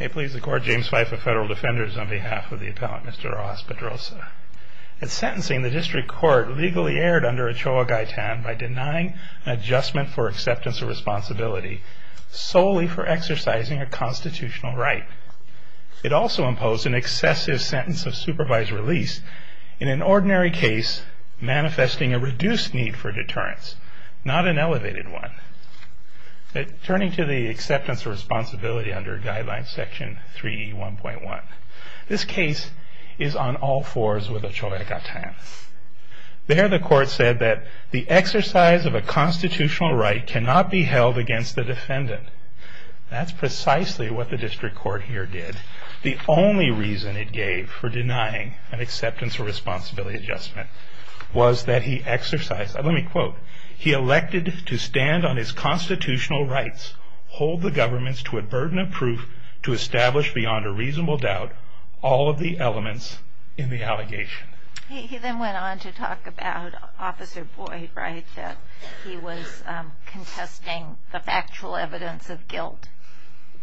May it please the Court, James Fife of Federal Defenders, on behalf of the Appellant Mr. Rojas-Pedroza. That sentencing the District Court legally erred under Ochoa-Gaetan by denying an adjustment for acceptance of responsibility solely for exercising a constitutional right. It also imposed an excessive sentence of supervised release in an ordinary case manifesting a reduced need for deterrence, not an elevated one. Turning to the acceptance of responsibility under guideline section 3E1.1, this case is on all fours with Ochoa-Gaetan. There the Court said that the exercise of a constitutional right cannot be held against the defendant. That's precisely what the District Court here did. The only reason it gave for denying an acceptance of responsibility adjustment was that he exercised, let me quote, he elected to stand on his constitutional rights, hold the government to a burden of proof to establish beyond a reasonable doubt all of the elements in the allegation. He then went on to talk about Officer Boyd, right, that he was contesting the factual evidence of guilt.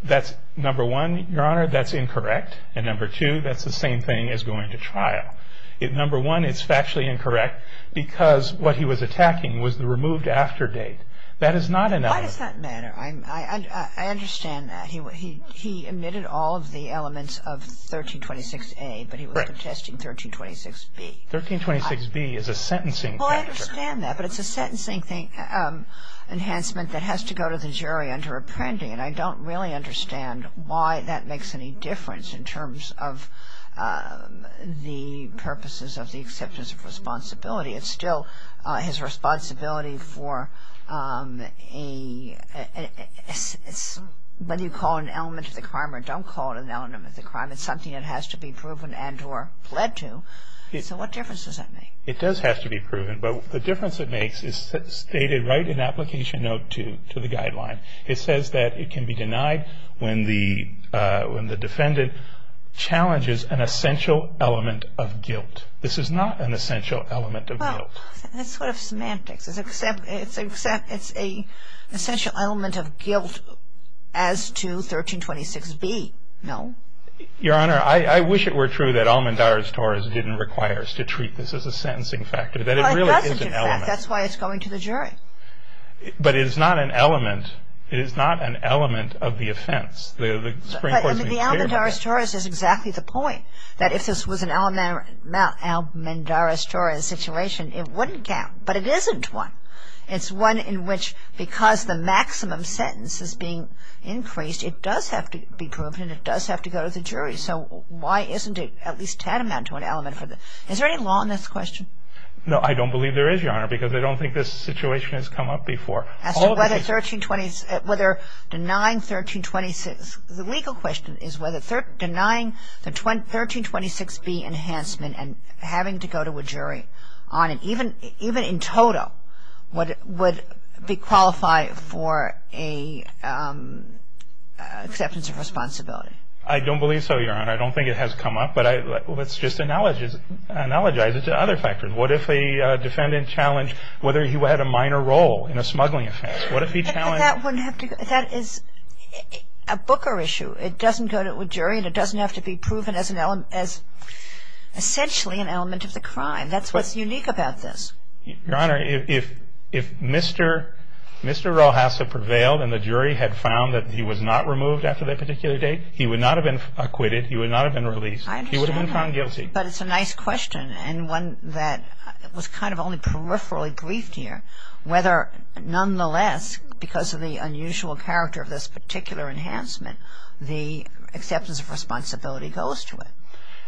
That's number one, Your Honor, that's incorrect. And number two, that's the same thing as going to trial. Number one, it's factually incorrect because what he was attacking was the removed after date. That is not an element. Kagan. Why does that matter? I understand that. He omitted all of the elements of 1326A, but he was protesting 1326B. 1326B is a sentencing factor. Well, I understand that, but it's a sentencing enhancement that has to go to the jury under appending. And I don't really understand why that makes any difference in terms of the purposes of the acceptance of responsibility. It's still his responsibility for a, whether you call it an element of the crime or don't call it an element of the crime, it's something that has to be proven and or led to. So what difference does that make? It does have to be proven, but the difference it makes is stated right in application note to the guideline. It says that it can be denied when the defendant challenges an essential element of guilt. This is not an essential element of guilt. Well, that's sort of semantics. It's an essential element of guilt as to 1326B, no? Your Honor, I wish it were true that Almendar's Tories didn't require us to treat this as a sentencing factor, that it really is an element. Well, it doesn't, in fact. That's why it's going to the jury. But it is not an element. It is not an element of the offense. The Supreme Court's been clear about that. But, I mean, the Almendar's Tories is exactly the point, that if this was an Almendar's Tories situation, it wouldn't count. But it isn't one. It's one in which, because the maximum sentence is being increased, it does have to be proven and it does have to go to the jury. So why isn't it at least tantamount to an element? Is there any law in this question? No, I don't believe there is, Your Honor, because I don't think this situation has come up before. As to whether 1326, whether denying 1326, the legal question is whether denying the 1326B enhancement and having to go to a jury on it, even in total, would be qualified for an acceptance of responsibility? I don't believe so, Your Honor. I don't think it has come up. But let's just analogize it to other factors. What if a defendant challenged whether he had a minor role in a smuggling offense? What if he challenged? That is a Booker issue. It doesn't go to a jury and it doesn't have to be proven as essentially an element of the crime. That's what's unique about this. Your Honor, if Mr. Rojas had prevailed and the jury had found that he was not removed after that particular date, he would not have been acquitted, he would not have been released. I understand that. He would have been found guilty. But it's a nice question and one that was kind of only peripherally briefed here, whether nonetheless, because of the unusual character of this particular enhancement, the acceptance of responsibility goes to it.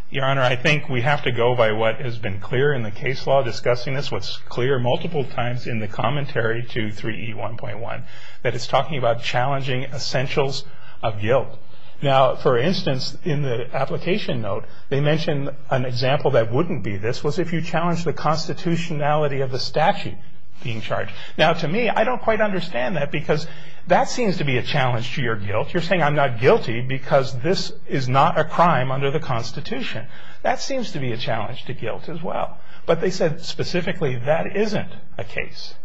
Your Honor, I think we have to go by what has been clear in the case law discussing this, what's clear multiple times in the commentary to 3E1.1, that it's talking about challenging essentials of guilt. Now, for instance, in the application note, they mention an example that wouldn't be this was if you challenged the constitutionality of the statute being charged. Now, to me, I don't quite understand that because that seems to be a challenge to your guilt. You're saying I'm not guilty because this is not a crime under the Constitution. That seems to be a challenge to guilt as well. But they said specifically that isn't a case.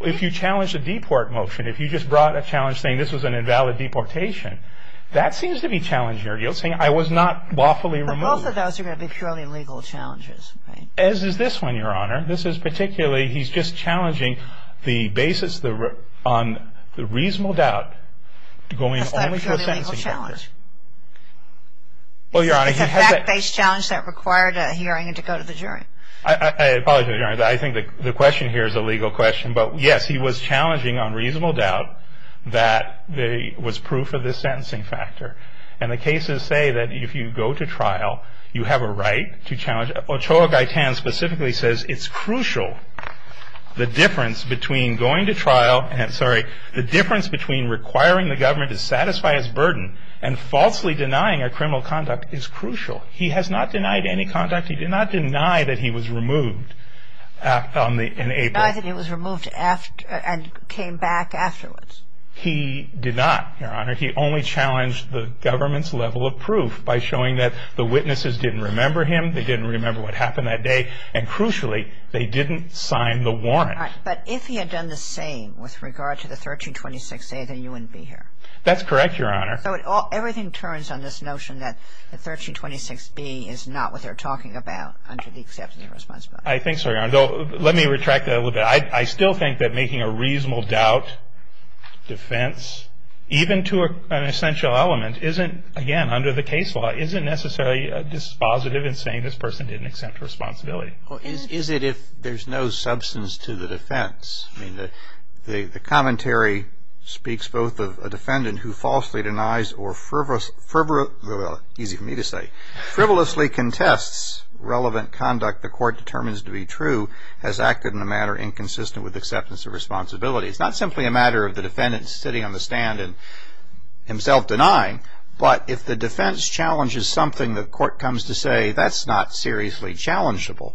If you challenge the deport motion, if you just brought a challenge saying this was an invalid deportation, that seems to be challenging your guilt, saying I was not lawfully removed. But both of those are going to be purely legal challenges. As is this one, Your Honor. This is particularly, he's just challenging the basis on the reasonable doubt going only to the sentencing factor. That's not a purely legal challenge. Well, Your Honor, he has that. It's a fact-based challenge that required a hearing to go to the jury. I apologize, Your Honor. I think the question here is a legal question. But, yes, he was challenging on reasonable doubt that was proof of the sentencing factor. And the cases say that if you go to trial, you have a right to challenge. Ochoa Gaitan specifically says it's crucial. The difference between going to trial, sorry, the difference between requiring the government to satisfy its burden and falsely denying a criminal conduct is crucial. He has not denied any conduct. He did not deny that he was removed in April. Denied that he was removed and came back afterwards. He did not, Your Honor. He only challenged the government's level of proof by showing that the witnesses didn't remember him. They didn't remember what happened that day. And, crucially, they didn't sign the warrant. But if he had done the same with regard to the 1326A, then you wouldn't be here. That's correct, Your Honor. So everything turns on this notion that the 1326B is not what they're talking about under the acceptance of responsibility. I think so, Your Honor. Let me retract that a little bit. I still think that making a reasonable doubt defense, even to an essential element, isn't, again, under the case law isn't necessarily dispositive in saying this person didn't accept responsibility. Well, is it if there's no substance to the defense? The commentary speaks both of a defendant who falsely denies or frivolously contests relevant conduct the court determines to be true has acted in a manner inconsistent with acceptance of responsibility. It's not simply a matter of the defendant sitting on the stand and himself denying. But if the defense challenges something the court comes to say, that's not seriously challengeable.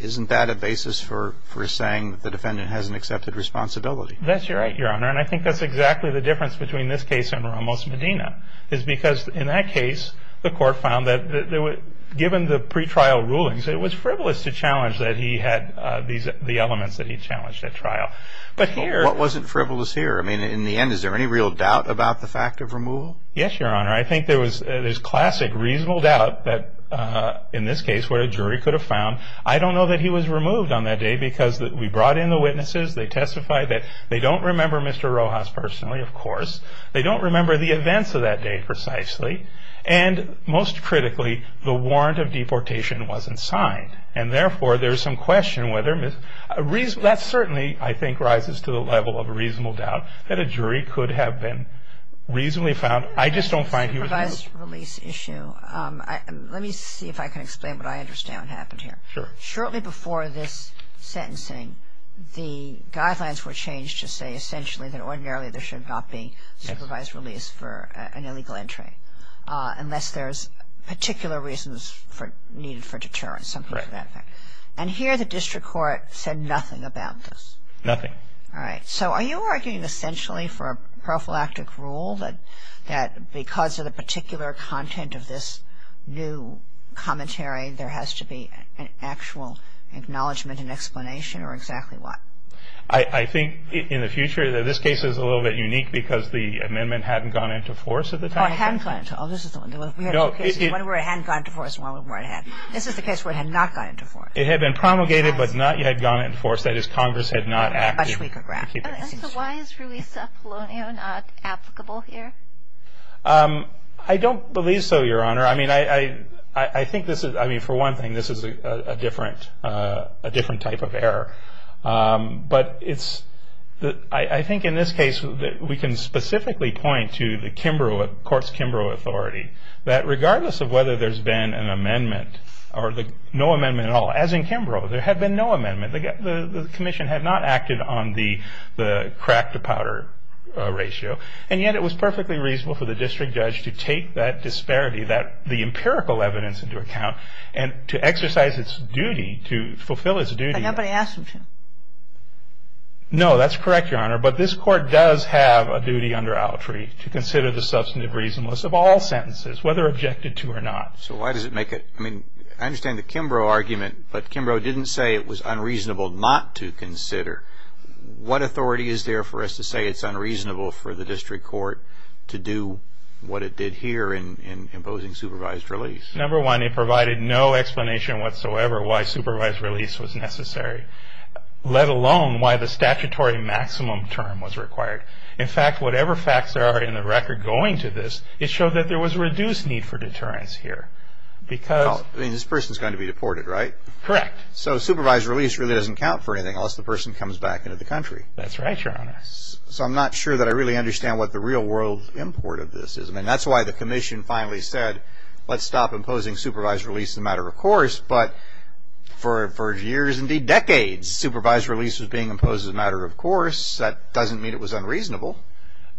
Isn't that a basis for saying that the defendant hasn't accepted responsibility? That's right, Your Honor. And I think that's exactly the difference between this case and Ramos Medina, is because in that case the court found that given the pretrial rulings, it was frivolous to challenge that he had the elements that he challenged at trial. What wasn't frivolous here? I mean, in the end, is there any real doubt about the fact of removal? Yes, Your Honor. I think there's classic reasonable doubt that in this case where a jury could have found. I don't know that he was removed on that day because we brought in the witnesses. They testified that they don't remember Mr. Rojas personally, of course. They don't remember the events of that day precisely. And most critically, the warrant of deportation wasn't signed. And therefore, there's some question whether Mr. Rojas was removed. That certainly, I think, rises to the level of reasonable doubt that a jury could have been reasonably found. I just don't find he was removed. Let me see if I can explain what I understand happened here. Sure. Shortly before this sentencing, the guidelines were changed to say essentially that ordinarily there should not be supervised release for an illegal entry unless there's particular reasons needed for deterrence, something to that effect. Right. And here the district court said nothing about this. Nothing. All right. So are you arguing essentially for a prophylactic rule that because of the particular content of this new commentary, there has to be an actual acknowledgment and explanation, or exactly what? I think in the future that this case is a little bit unique because the amendment hadn't gone into force at the time. Oh, it hadn't gone into force. Oh, this is the one. We had two cases, one where it hadn't gone into force and one where it had. This is the case where it had not gone into force. It had been promulgated but not yet gone into force. That is, Congress had not acted. So why is Ruisa Polonio not applicable here? I don't believe so, Your Honor. I mean, for one thing, this is a different type of error. But I think in this case we can specifically point to the courts' Kimbrough authority that regardless of whether there's been an amendment or no amendment at all, as in Kimbrough, there had been no amendment. The commission had not acted on the crack-to-powder ratio. And yet it was perfectly reasonable for the district judge to take that disparity, the empirical evidence into account, and to exercise its duty, to fulfill its duty. But nobody asked him to. No, that's correct, Your Honor. But this Court does have a duty under Autry to consider the substantive reasonableness of all sentences, whether objected to or not. So why does it make it? I mean, I understand the Kimbrough argument, but Kimbrough didn't say it was unreasonable not to consider. What authority is there for us to say it's unreasonable for the district court to do what it did here in imposing supervised release? Number one, it provided no explanation whatsoever why supervised release was necessary, let alone why the statutory maximum term was required. In fact, whatever facts there are in the record going to this, it showed that there was a reduced need for deterrence here. I mean, this person is going to be deported, right? Correct. So supervised release really doesn't count for anything unless the person comes back into the country. That's right, Your Honor. So I'm not sure that I really understand what the real-world import of this is. I mean, that's why the commission finally said, let's stop imposing supervised release as a matter of course, but for years, indeed decades, supervised release was being imposed as a matter of course. That doesn't mean it was unreasonable.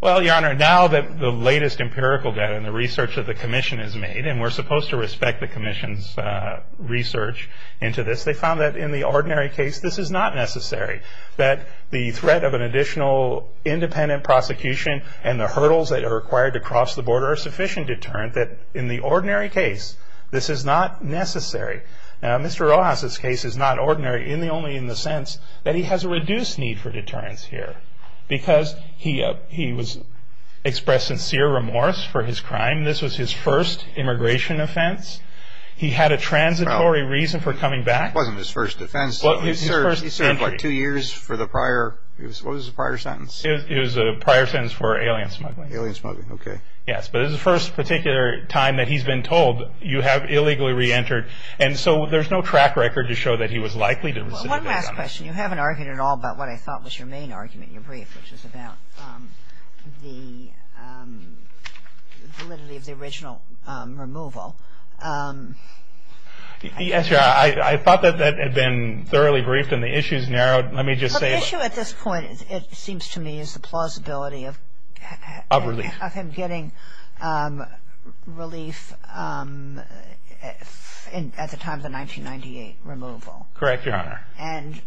Well, Your Honor, now that the latest empirical data and the research that the commission has made, and we're supposed to respect the commission's research into this, they found that in the ordinary case, this is not necessary, that the threat of an additional independent prosecution and the hurdles that are required to cross the border are sufficient deterrent that in the ordinary case, this is not necessary. Now, Mr. Rojas' case is not ordinary only in the sense that he has a reduced need for deterrence here because he was expressed sincere remorse for his crime. This was his first immigration offense. He had a transitory reason for coming back. Well, it wasn't his first offense. He served like two years for the prior, what was the prior sentence? It was a prior sentence for alien smuggling. Alien smuggling, okay. Yes, but it was the first particular time that he's been told, you have illegally reentered, and so there's no track record to show that he was likely to have. Well, one last question. You haven't argued at all about what I thought was your main argument in your brief, which is about the validity of the original removal. Yes, Your Honor. I thought that that had been thoroughly briefed and the issues narrowed. Let me just say. The issue at this point, it seems to me, is the plausibility of him getting relief at the time of the 1998 removal. Correct, Your Honor. And do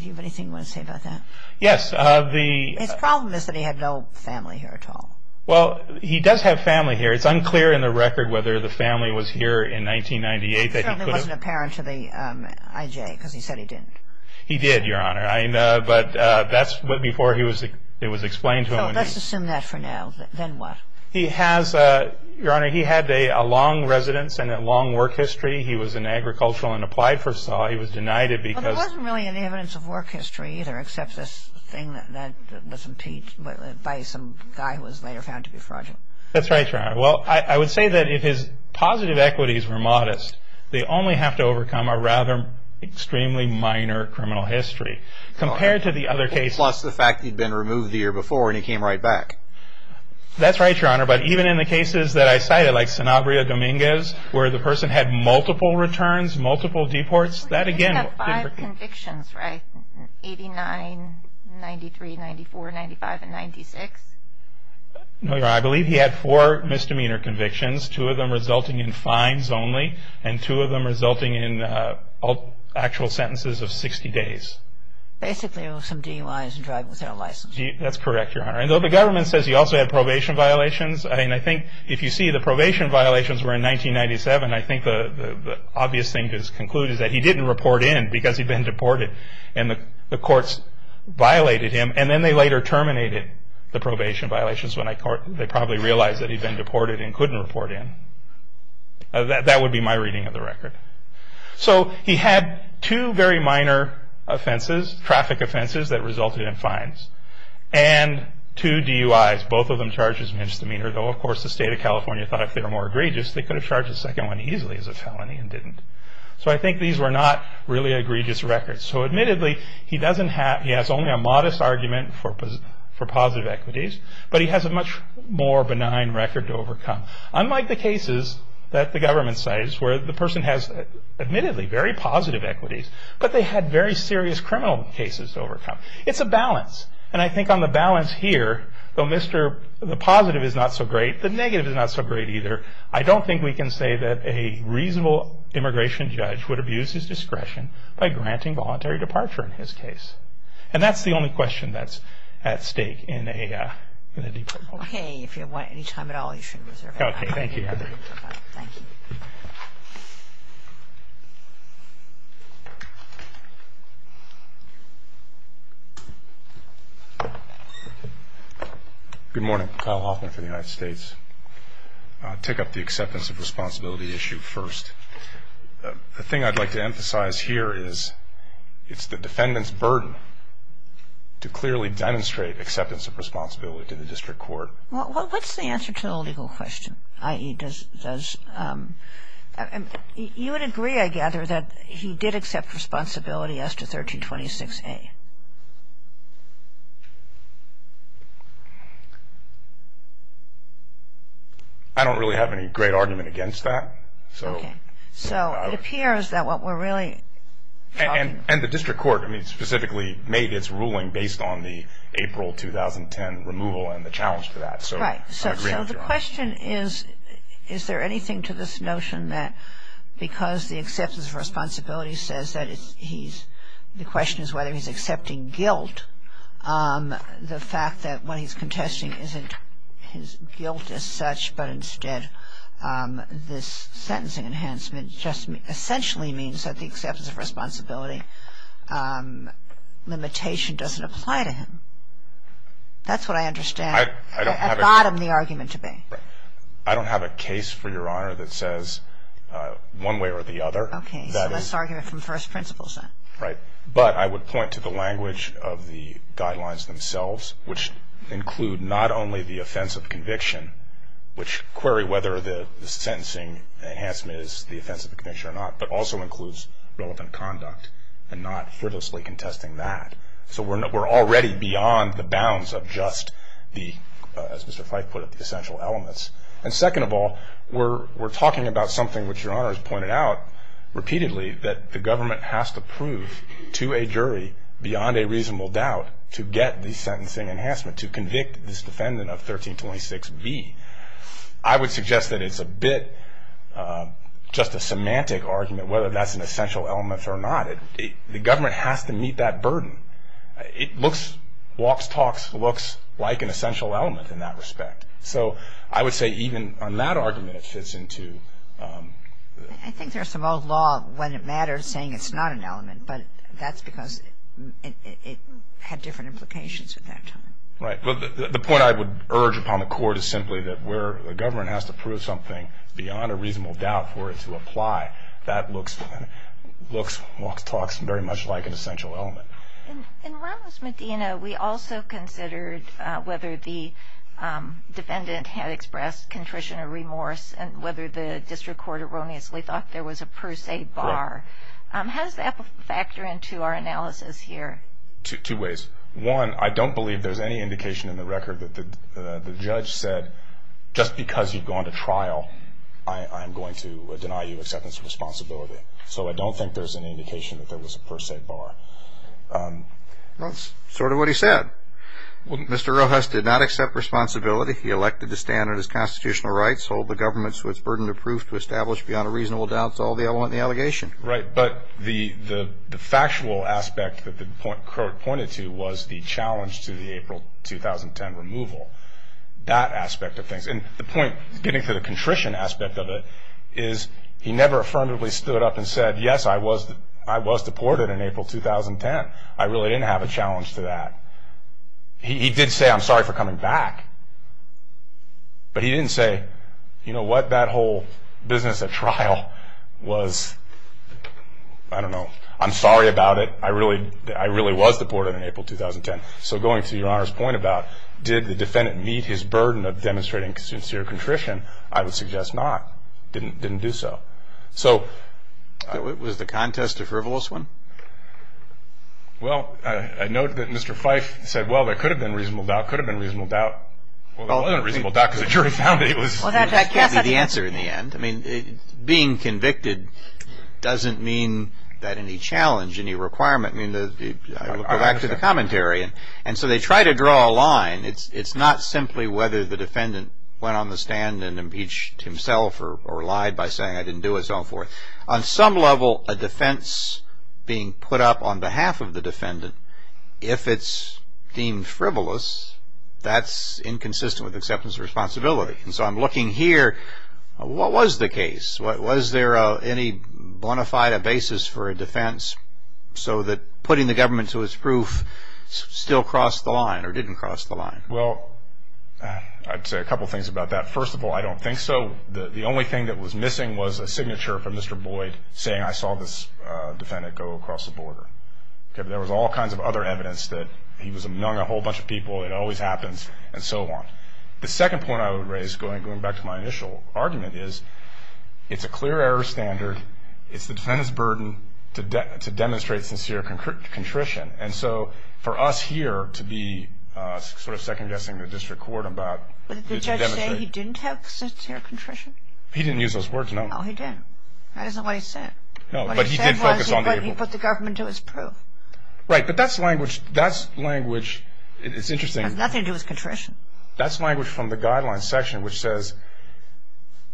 you have anything you want to say about that? Yes. His problem is that he had no family here at all. Well, he does have family here. It's unclear in the record whether the family was here in 1998 that he could have. It certainly wasn't apparent to the IJ because he said he didn't. He did, Your Honor, but that's before it was explained to him. So let's assume that for now. Then what? He has, Your Honor, he had a long residence and a long work history. He was an agricultural and applied first law. He was denied it because. Well, there wasn't really any evidence of work history, either, except this thing that was impeached by some guy who was later found to be fraudulent. That's right, Your Honor. Well, I would say that if his positive equities were modest, they only have to overcome a rather extremely minor criminal history. Compared to the other cases. Plus the fact that he'd been removed the year before and he came right back. That's right, Your Honor. But even in the cases that I cited, like Sanabria Dominguez, where the person had multiple returns, multiple deports, that again didn't. He had five convictions, right? 89, 93, 94, 95, and 96. No, Your Honor, I believe he had four misdemeanor convictions, two of them resulting in fines only, and two of them resulting in actual sentences of 60 days. Basically, it was some DUIs and driving without a license. That's correct, Your Honor. And though the government says he also had probation violations, I think if you see the probation violations were in 1997, I think the obvious thing to conclude is that he didn't report in because he'd been deported and the courts violated him. And then they later terminated the probation violations when they probably realized that he'd been deported and couldn't report in. That would be my reading of the record. So he had two very minor offenses, traffic offenses, that resulted in fines. And two DUIs, both of them charges of misdemeanor, though of course the state of California thought if they were more egregious, they could have charged the second one easily as a felony and didn't. So I think these were not really egregious records. So admittedly, he has only a modest argument for positive equities, but he has a much more benign record to overcome, unlike the cases that the government says where the person has admittedly very positive equities, but they had very serious criminal cases to overcome. It's a balance, and I think on the balance here, though the positive is not so great, the negative is not so great either. I don't think we can say that a reasonable immigration judge would abuse his discretion by granting voluntary departure in his case. And that's the only question that's at stake in a deportation. Okay, if you have any time at all, you should reserve it. Okay, thank you. Good morning. Kyle Hoffman for the United States. I'll take up the acceptance of responsibility issue first. The thing I'd like to emphasize here is it's the defendant's burden to clearly demonstrate acceptance of responsibility to the district court. Well, what's the answer to the legal question? I.e., does you would agree, I gather, that he did accept responsibility as to 1326A? I don't really have any great argument against that. Okay, so it appears that what we're really talking about. And the district court, I mean, specifically made its ruling based on the April 2010 removal and the challenge to that. Right, so the question is, is there anything to this notion that because the acceptance of responsibility says that he's, the question is whether he's accepted responsibility or accepting guilt, the fact that what he's contesting isn't his guilt as such, but instead this sentencing enhancement just essentially means that the acceptance of responsibility limitation doesn't apply to him. That's what I understand at bottom the argument to be. I don't have a case, for your honor, that says one way or the other. Okay, so that's argument from first principles then. Right, but I would point to the language of the guidelines themselves, which include not only the offense of conviction, which query whether the sentencing enhancement is the offense of conviction or not, but also includes relevant conduct and not frivolously contesting that. So we're already beyond the bounds of just the, as Mr. Fife put it, the essential elements. And second of all, we're talking about something which your honor has pointed out repeatedly, that the government has to prove to a jury beyond a reasonable doubt to get the sentencing enhancement, to convict this defendant of 1326B. I would suggest that it's a bit just a semantic argument whether that's an essential element or not. The government has to meet that burden. It looks, walks, talks, looks like an essential element in that respect. So I would say even on that argument it fits into. I think there's some old law when it matters saying it's not an element, but that's because it had different implications at that time. Right, but the point I would urge upon the court is simply that where the government has to prove something beyond a reasonable doubt for it to apply, that looks, walks, talks, very much like an essential element. In Ramos-Medina, we also considered whether the defendant had expressed contrition or remorse and whether the district court erroneously thought there was a per se bar. How does that factor into our analysis here? Two ways. One, I don't believe there's any indication in the record that the judge said just because you've gone to trial, I am going to deny you acceptance of responsibility. So I don't think there's any indication that there was a per se bar. That's sort of what he said. Mr. Rojas did not accept responsibility. He elected to stand on his constitutional rights, hold the government to its burden of proof to establish beyond a reasonable doubt it's all the element in the allegation. Right, but the factual aspect that the court pointed to was the challenge to the April 2010 removal, that aspect of things. And the point, getting to the contrition aspect of it, is he never affirmatively stood up and said, yes, I was deported in April 2010. I really didn't have a challenge to that. He did say, I'm sorry for coming back. But he didn't say, you know what, that whole business at trial was, I don't know, I'm sorry about it. I really was deported in April 2010. So going to your Honor's point about did the defendant meet his burden of demonstrating sincere contrition, I would suggest not. Didn't do so. Was the contest a frivolous one? Well, I note that Mr. Fife said, well, there could have been reasonable doubt, could have been reasonable doubt. Well, there wasn't a reasonable doubt because the jury found that he was. Well, that can't be the answer in the end. I mean, being convicted doesn't mean that any challenge, any requirement. I mean, I look back to the commentary. And so they try to draw a line. It's not simply whether the defendant went on the stand and impeached himself or lied by saying I didn't do it, so on and so forth. But on some level, a defense being put up on behalf of the defendant, if it's deemed frivolous, that's inconsistent with acceptance of responsibility. And so I'm looking here, what was the case? Was there any bona fide basis for a defense so that putting the government to its proof still crossed the line or didn't cross the line? Well, I'd say a couple things about that. First of all, I don't think so. The only thing that was missing was a signature from Mr. Boyd saying, I saw this defendant go across the border. There was all kinds of other evidence that he was among a whole bunch of people, it always happens, and so on. The second point I would raise, going back to my initial argument, is it's a clear error standard. It's the defendant's burden to demonstrate sincere contrition. And so for us here to be sort of second-guessing the district court about Would the judge say he didn't have sincere contrition? He didn't use those words, no. No, he didn't. That isn't what he said. No, but he did focus on the able. What he said was he put the government to its proof. Right, but that's language, it's interesting. It has nothing to do with contrition. That's language from the guidelines section which says,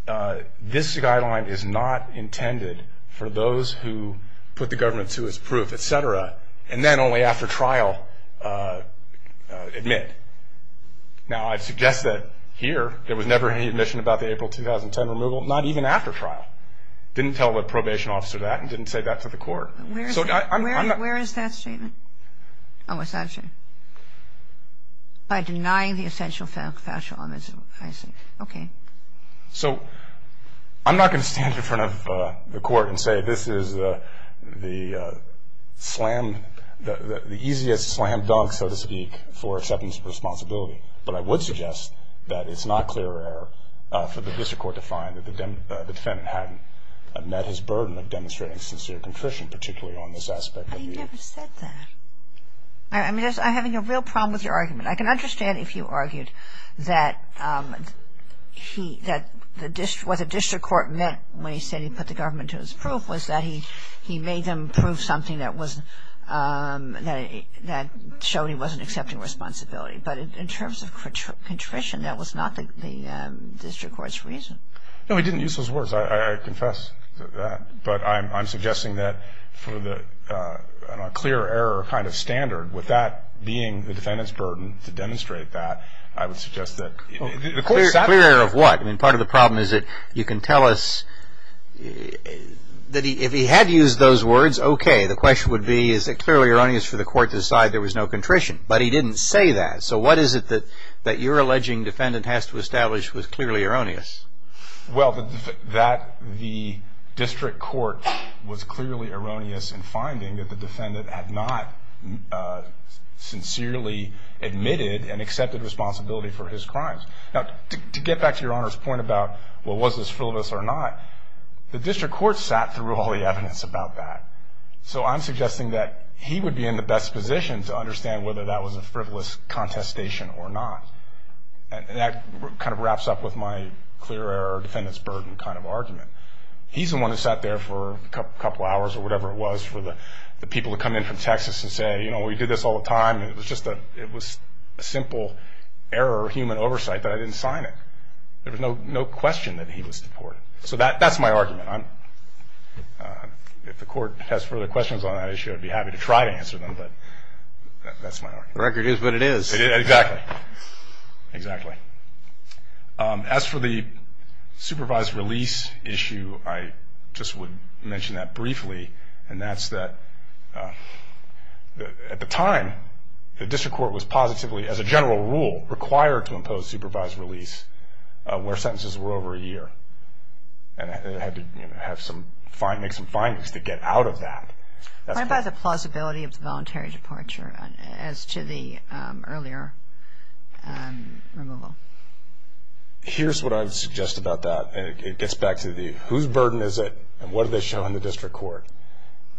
this guideline is not intended for those who put the government to its proof, et cetera, and then only after trial admit. Now, I'd suggest that here there was never any admission about the April 2010 removal, not even after trial. Didn't tell a probation officer that and didn't say that to the court. Where is that statement? Oh, it's that statement. By denying the essential factual evidence. Okay. So I'm not going to stand in front of the court and say this is the slam, the easiest slam dunk, so to speak, for acceptance of responsibility, but I would suggest that it's not clear error for the district court to find that the defendant hadn't met his burden of demonstrating sincere contrition, particularly on this aspect. He never said that. I'm having a real problem with your argument. I can understand if you argued that what the district court meant when he said he put the government to its proof was that he made them prove something that showed he wasn't accepting responsibility. But in terms of contrition, that was not the district court's reason. No, he didn't use those words. I confess to that. But I'm suggesting that for the clear error kind of standard, with that being the defendant's burden to demonstrate that, I would suggest that. Clear error of what? I mean, part of the problem is that you can tell us that if he had used those words, okay, the question would be is it clearly erroneous for the court to decide there was no contrition. But he didn't say that. So what is it that your alleging defendant has to establish was clearly erroneous? Well, that the district court was clearly erroneous in finding that the defendant had not sincerely admitted and accepted responsibility for his crimes. Now, to get back to Your Honor's point about, well, was this frivolous or not, the district court sat through all the evidence about that. So I'm suggesting that he would be in the best position to understand whether that was a frivolous contestation or not. And that kind of wraps up with my clear error defendant's burden kind of argument. He's the one who sat there for a couple hours or whatever it was for the people to come in from Texas and say, you know, we do this all the time. It was just a simple error of human oversight that I didn't sign it. There was no question that he was deported. So that's my argument. If the court has further questions on that issue, I'd be happy to try to answer them. But that's my argument. The record is what it is. Exactly. As for the supervised release issue, I just would mention that briefly, and that's that at the time the district court was positively, as a general rule, required to impose supervised release where sentences were over a year. And it had to make some findings to get out of that. What about the plausibility of the voluntary departure as to the earlier removal? Here's what I would suggest about that. It gets back to the whose burden is it, and what do they show in the district court?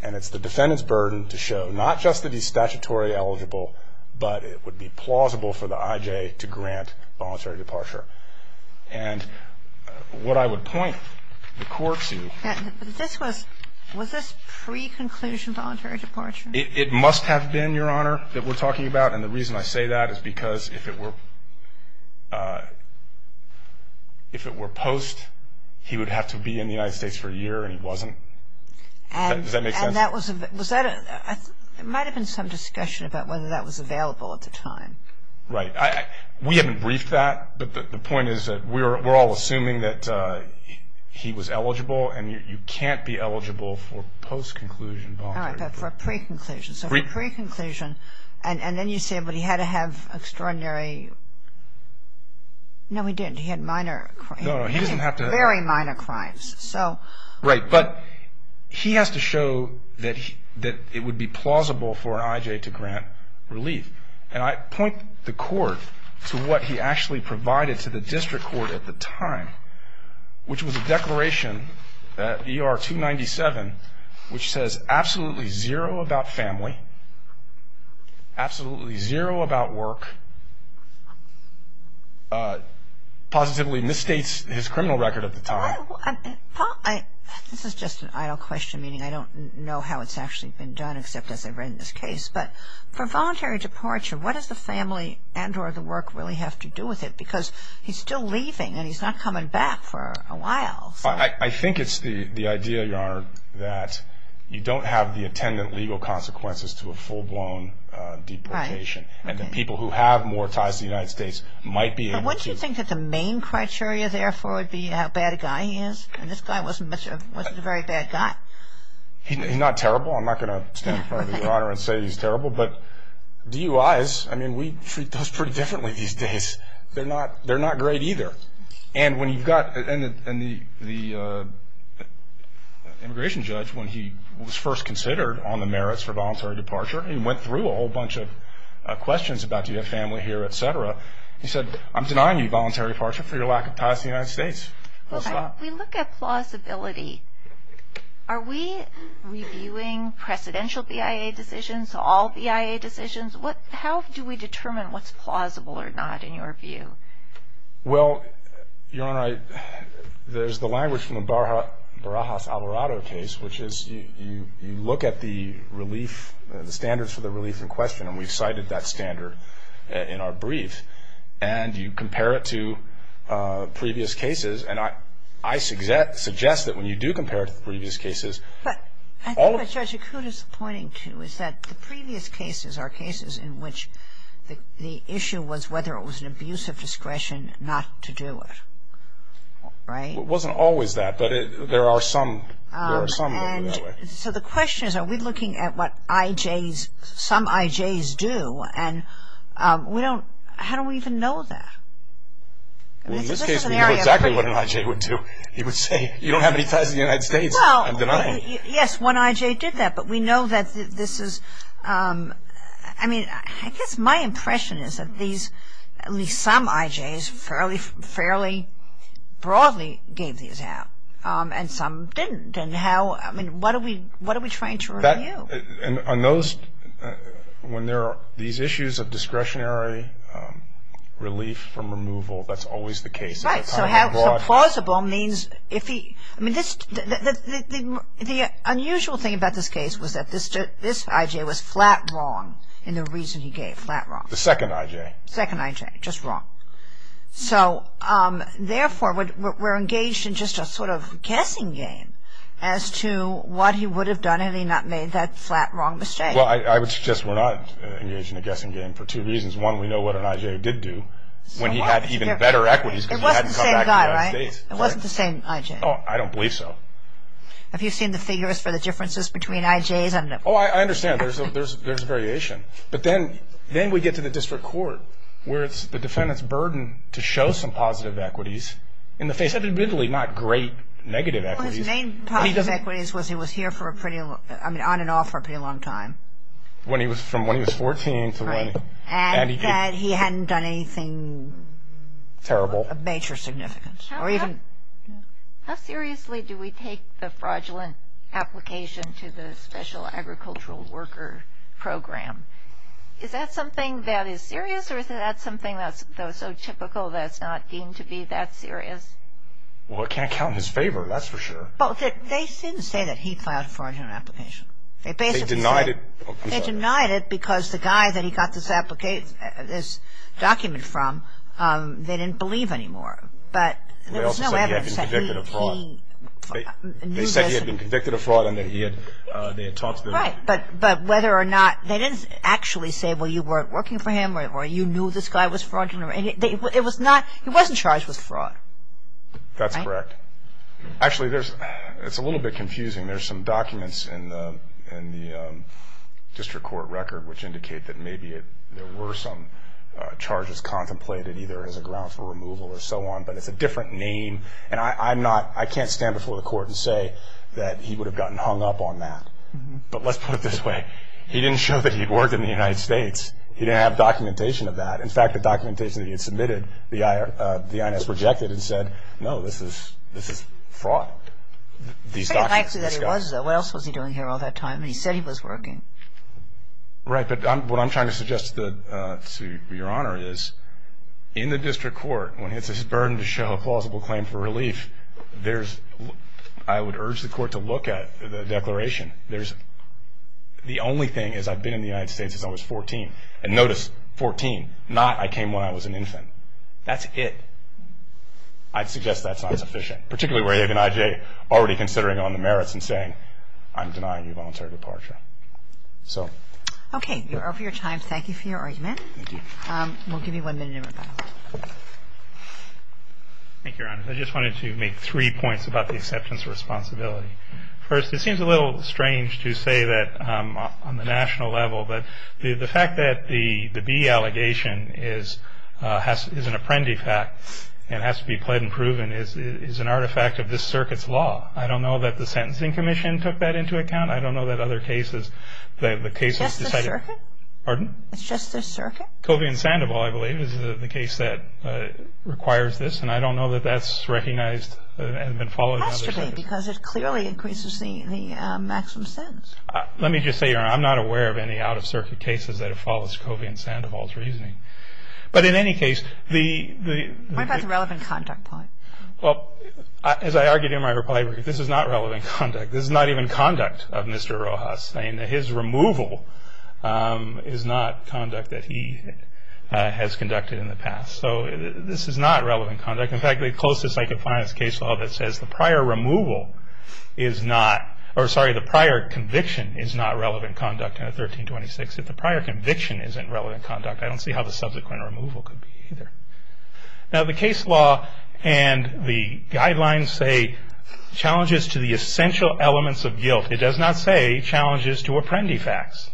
And it's the defendant's burden to show not just that he's statutory eligible, but it would be plausible for the IJ to grant voluntary departure. And what I would point the court to. Was this pre-conclusion voluntary departure? It must have been, Your Honor, that we're talking about. And the reason I say that is because if it were post, he would have to be in the United States for a year, and he wasn't. Does that make sense? It might have been some discussion about whether that was available at the time. Right. We haven't briefed that, but the point is that we're all assuming that he was eligible, and you can't be eligible for post-conclusion voluntary departure. All right, but for pre-conclusion. So for pre-conclusion, and then you say, but he had to have extraordinary. No, he didn't. He had minor. No, no, he doesn't have to. Very minor crimes. Right, but he has to show that it would be plausible for an IJ to grant relief. And I point the court to what he actually provided to the district court at the time, which was a declaration that ER 297, which says absolutely zero about family, absolutely zero about work, positively misstates his criminal record at the time. Paul, this is just an idle question, meaning I don't know how it's actually been done except as I've read this case. But for voluntary departure, what does the family and or the work really have to do with it? Because he's still leaving, and he's not coming back for a while. I think it's the idea, Your Honor, that you don't have the attendant legal consequences to a full-blown deportation. And the people who have more ties to the United States might be able to. But wouldn't you think that the main criteria, therefore, would be how bad a guy he is? And this guy wasn't a very bad guy. He's not terrible. I'm not going to stand in front of Your Honor and say he's terrible. But DUIs, I mean, we treat those pretty differently these days. They're not great either. And when you've got the immigration judge, when he was first considered on the merits for voluntary departure, he went through a whole bunch of questions about do you have family here, et cetera. He said, I'm denying you voluntary departure for your lack of ties to the United States. We look at plausibility. Are we reviewing precedential BIA decisions, all BIA decisions? How do we determine what's plausible or not, in your view? Well, Your Honor, there's the language from the Barajas-Alvarado case, which is you look at the relief, the standards for the relief in question, and we've cited that standard in our brief. And you compare it to previous cases. And I suggest that when you do compare it to previous cases, all of the ---- the issue was whether it was an abuse of discretion not to do it. Right? It wasn't always that, but there are some. So the question is, are we looking at what IJs, some IJs do? And we don't ---- how do we even know that? Well, in this case, we know exactly what an IJ would do. He would say, you don't have any ties to the United States. Well, yes, one IJ did that. But we know that this is ---- I mean, I guess my impression is that these, at least some IJs, fairly broadly gave these out, and some didn't. And how ---- I mean, what are we trying to review? And on those ---- when there are these issues of discretionary relief from removal, that's always the case. Right. So plausible means if he ---- I mean, this ---- The unusual thing about this case was that this IJ was flat wrong in the reason he gave, flat wrong. The second IJ. Second IJ, just wrong. So, therefore, we're engaged in just a sort of guessing game as to what he would have done had he not made that flat wrong mistake. Well, I would suggest we're not engaged in a guessing game for two reasons. One, we know what an IJ did do when he had even better equities because he hadn't come back to the United States. It wasn't the same guy, right? It wasn't the same IJ. Oh, I don't believe so. Have you seen the figures for the differences between IJs? I don't know. Oh, I understand. There's a variation. But then we get to the district court where it's the defendant's burden to show some positive equities in the face of admittedly not great negative equities. Well, his main positive equities was he was here for a pretty long ---- I mean, on and off for a pretty long time. When he was ---- from when he was 14 to when ---- Right. And that he hadn't done anything ---- Terrible. ---- of major significance or even ---- How seriously do we take the fraudulent application to the Special Agricultural Worker Program? Is that something that is serious or is that something that's so typical that it's not deemed to be that serious? Well, it can't count in his favor. That's for sure. Well, they didn't say that he filed a fraudulent application. They basically said ---- They denied it. I'm sorry. They didn't believe anymore. But there was no evidence that he knew this. They also said he had been convicted of fraud. They said he had been convicted of fraud and that he had talked to the ---- Right. But whether or not ---- they didn't actually say, well, you weren't working for him or you knew this guy was fraudulent. It was not ---- he wasn't charged with fraud. That's correct. Actually, there's ---- it's a little bit confusing. There's some documents in the district court record which indicate that maybe there were some charges contemplated, either as a ground for removal or so on, but it's a different name. And I'm not ---- I can't stand before the court and say that he would have gotten hung up on that. But let's put it this way. He didn't show that he had worked in the United States. He didn't have documentation of that. In fact, the documentation that he had submitted, the INS rejected it and said, no, this is fraud. It's very likely that he was, though. What else was he doing here all that time? He said he was working. Right, but what I'm trying to suggest to Your Honor is in the district court, when it's his burden to show a plausible claim for relief, there's ---- I would urge the court to look at the declaration. There's ---- the only thing is I've been in the United States since I was 14. And notice, 14, not I came when I was an infant. That's it. I'd suggest that's not sufficient, particularly where you have an IJ already considering on the merits and saying, I'm denying you voluntary departure. So. Okay. You're over your time. Thank you for your argument. Thank you. We'll give you one minute in rebuttal. Thank you, Your Honor. I just wanted to make three points about the acceptance of responsibility. First, it seems a little strange to say that on the national level, but the fact that the B allegation is an apprendi fact and has to be pled and proven is an artifact of this circuit's law. I don't know that the Sentencing Commission took that into account. I don't know that other cases, that the case has decided ---- It's just the circuit? Pardon? It's just the circuit? Kobe and Sandoval, I believe, is the case that requires this, and I don't know that that's recognized and been followed ---- It has to be because it clearly increases the maximum sentence. Let me just say, Your Honor, I'm not aware of any out-of-circuit cases that have followed Kobe and Sandoval's reasoning. But in any case, the ---- What about the relevant conduct point? Well, as I argued in my reply brief, this is not relevant conduct. This is not even conduct of Mr. Rojas, saying that his removal is not conduct that he has conducted in the past. So this is not relevant conduct. In fact, the closest I could find is a case law that says the prior removal is not ---- Or, sorry, the prior conviction is not relevant conduct in 1326. If the prior conviction isn't relevant conduct, I don't see how the subsequent removal could be either. Now, the case law and the guidelines say, Challenges to the essential elements of guilt. It does not say, Challenges to apprendi facts.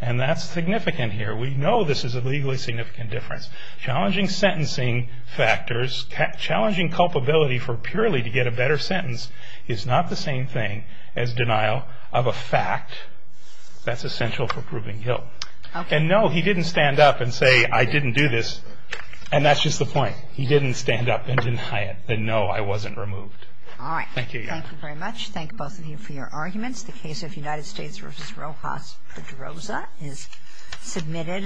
And that's significant here. We know this is a legally significant difference. Challenging sentencing factors, challenging culpability for purely to get a better sentence, is not the same thing as denial of a fact that's essential for proving guilt. And no, he didn't stand up and say, I didn't do this. And that's just the point. He didn't stand up and deny it. And no, I wasn't removed. All right. Thank you. Thank you very much. Thank both of you for your arguments. The case of United States v. Rojas-Pedroza is submitted.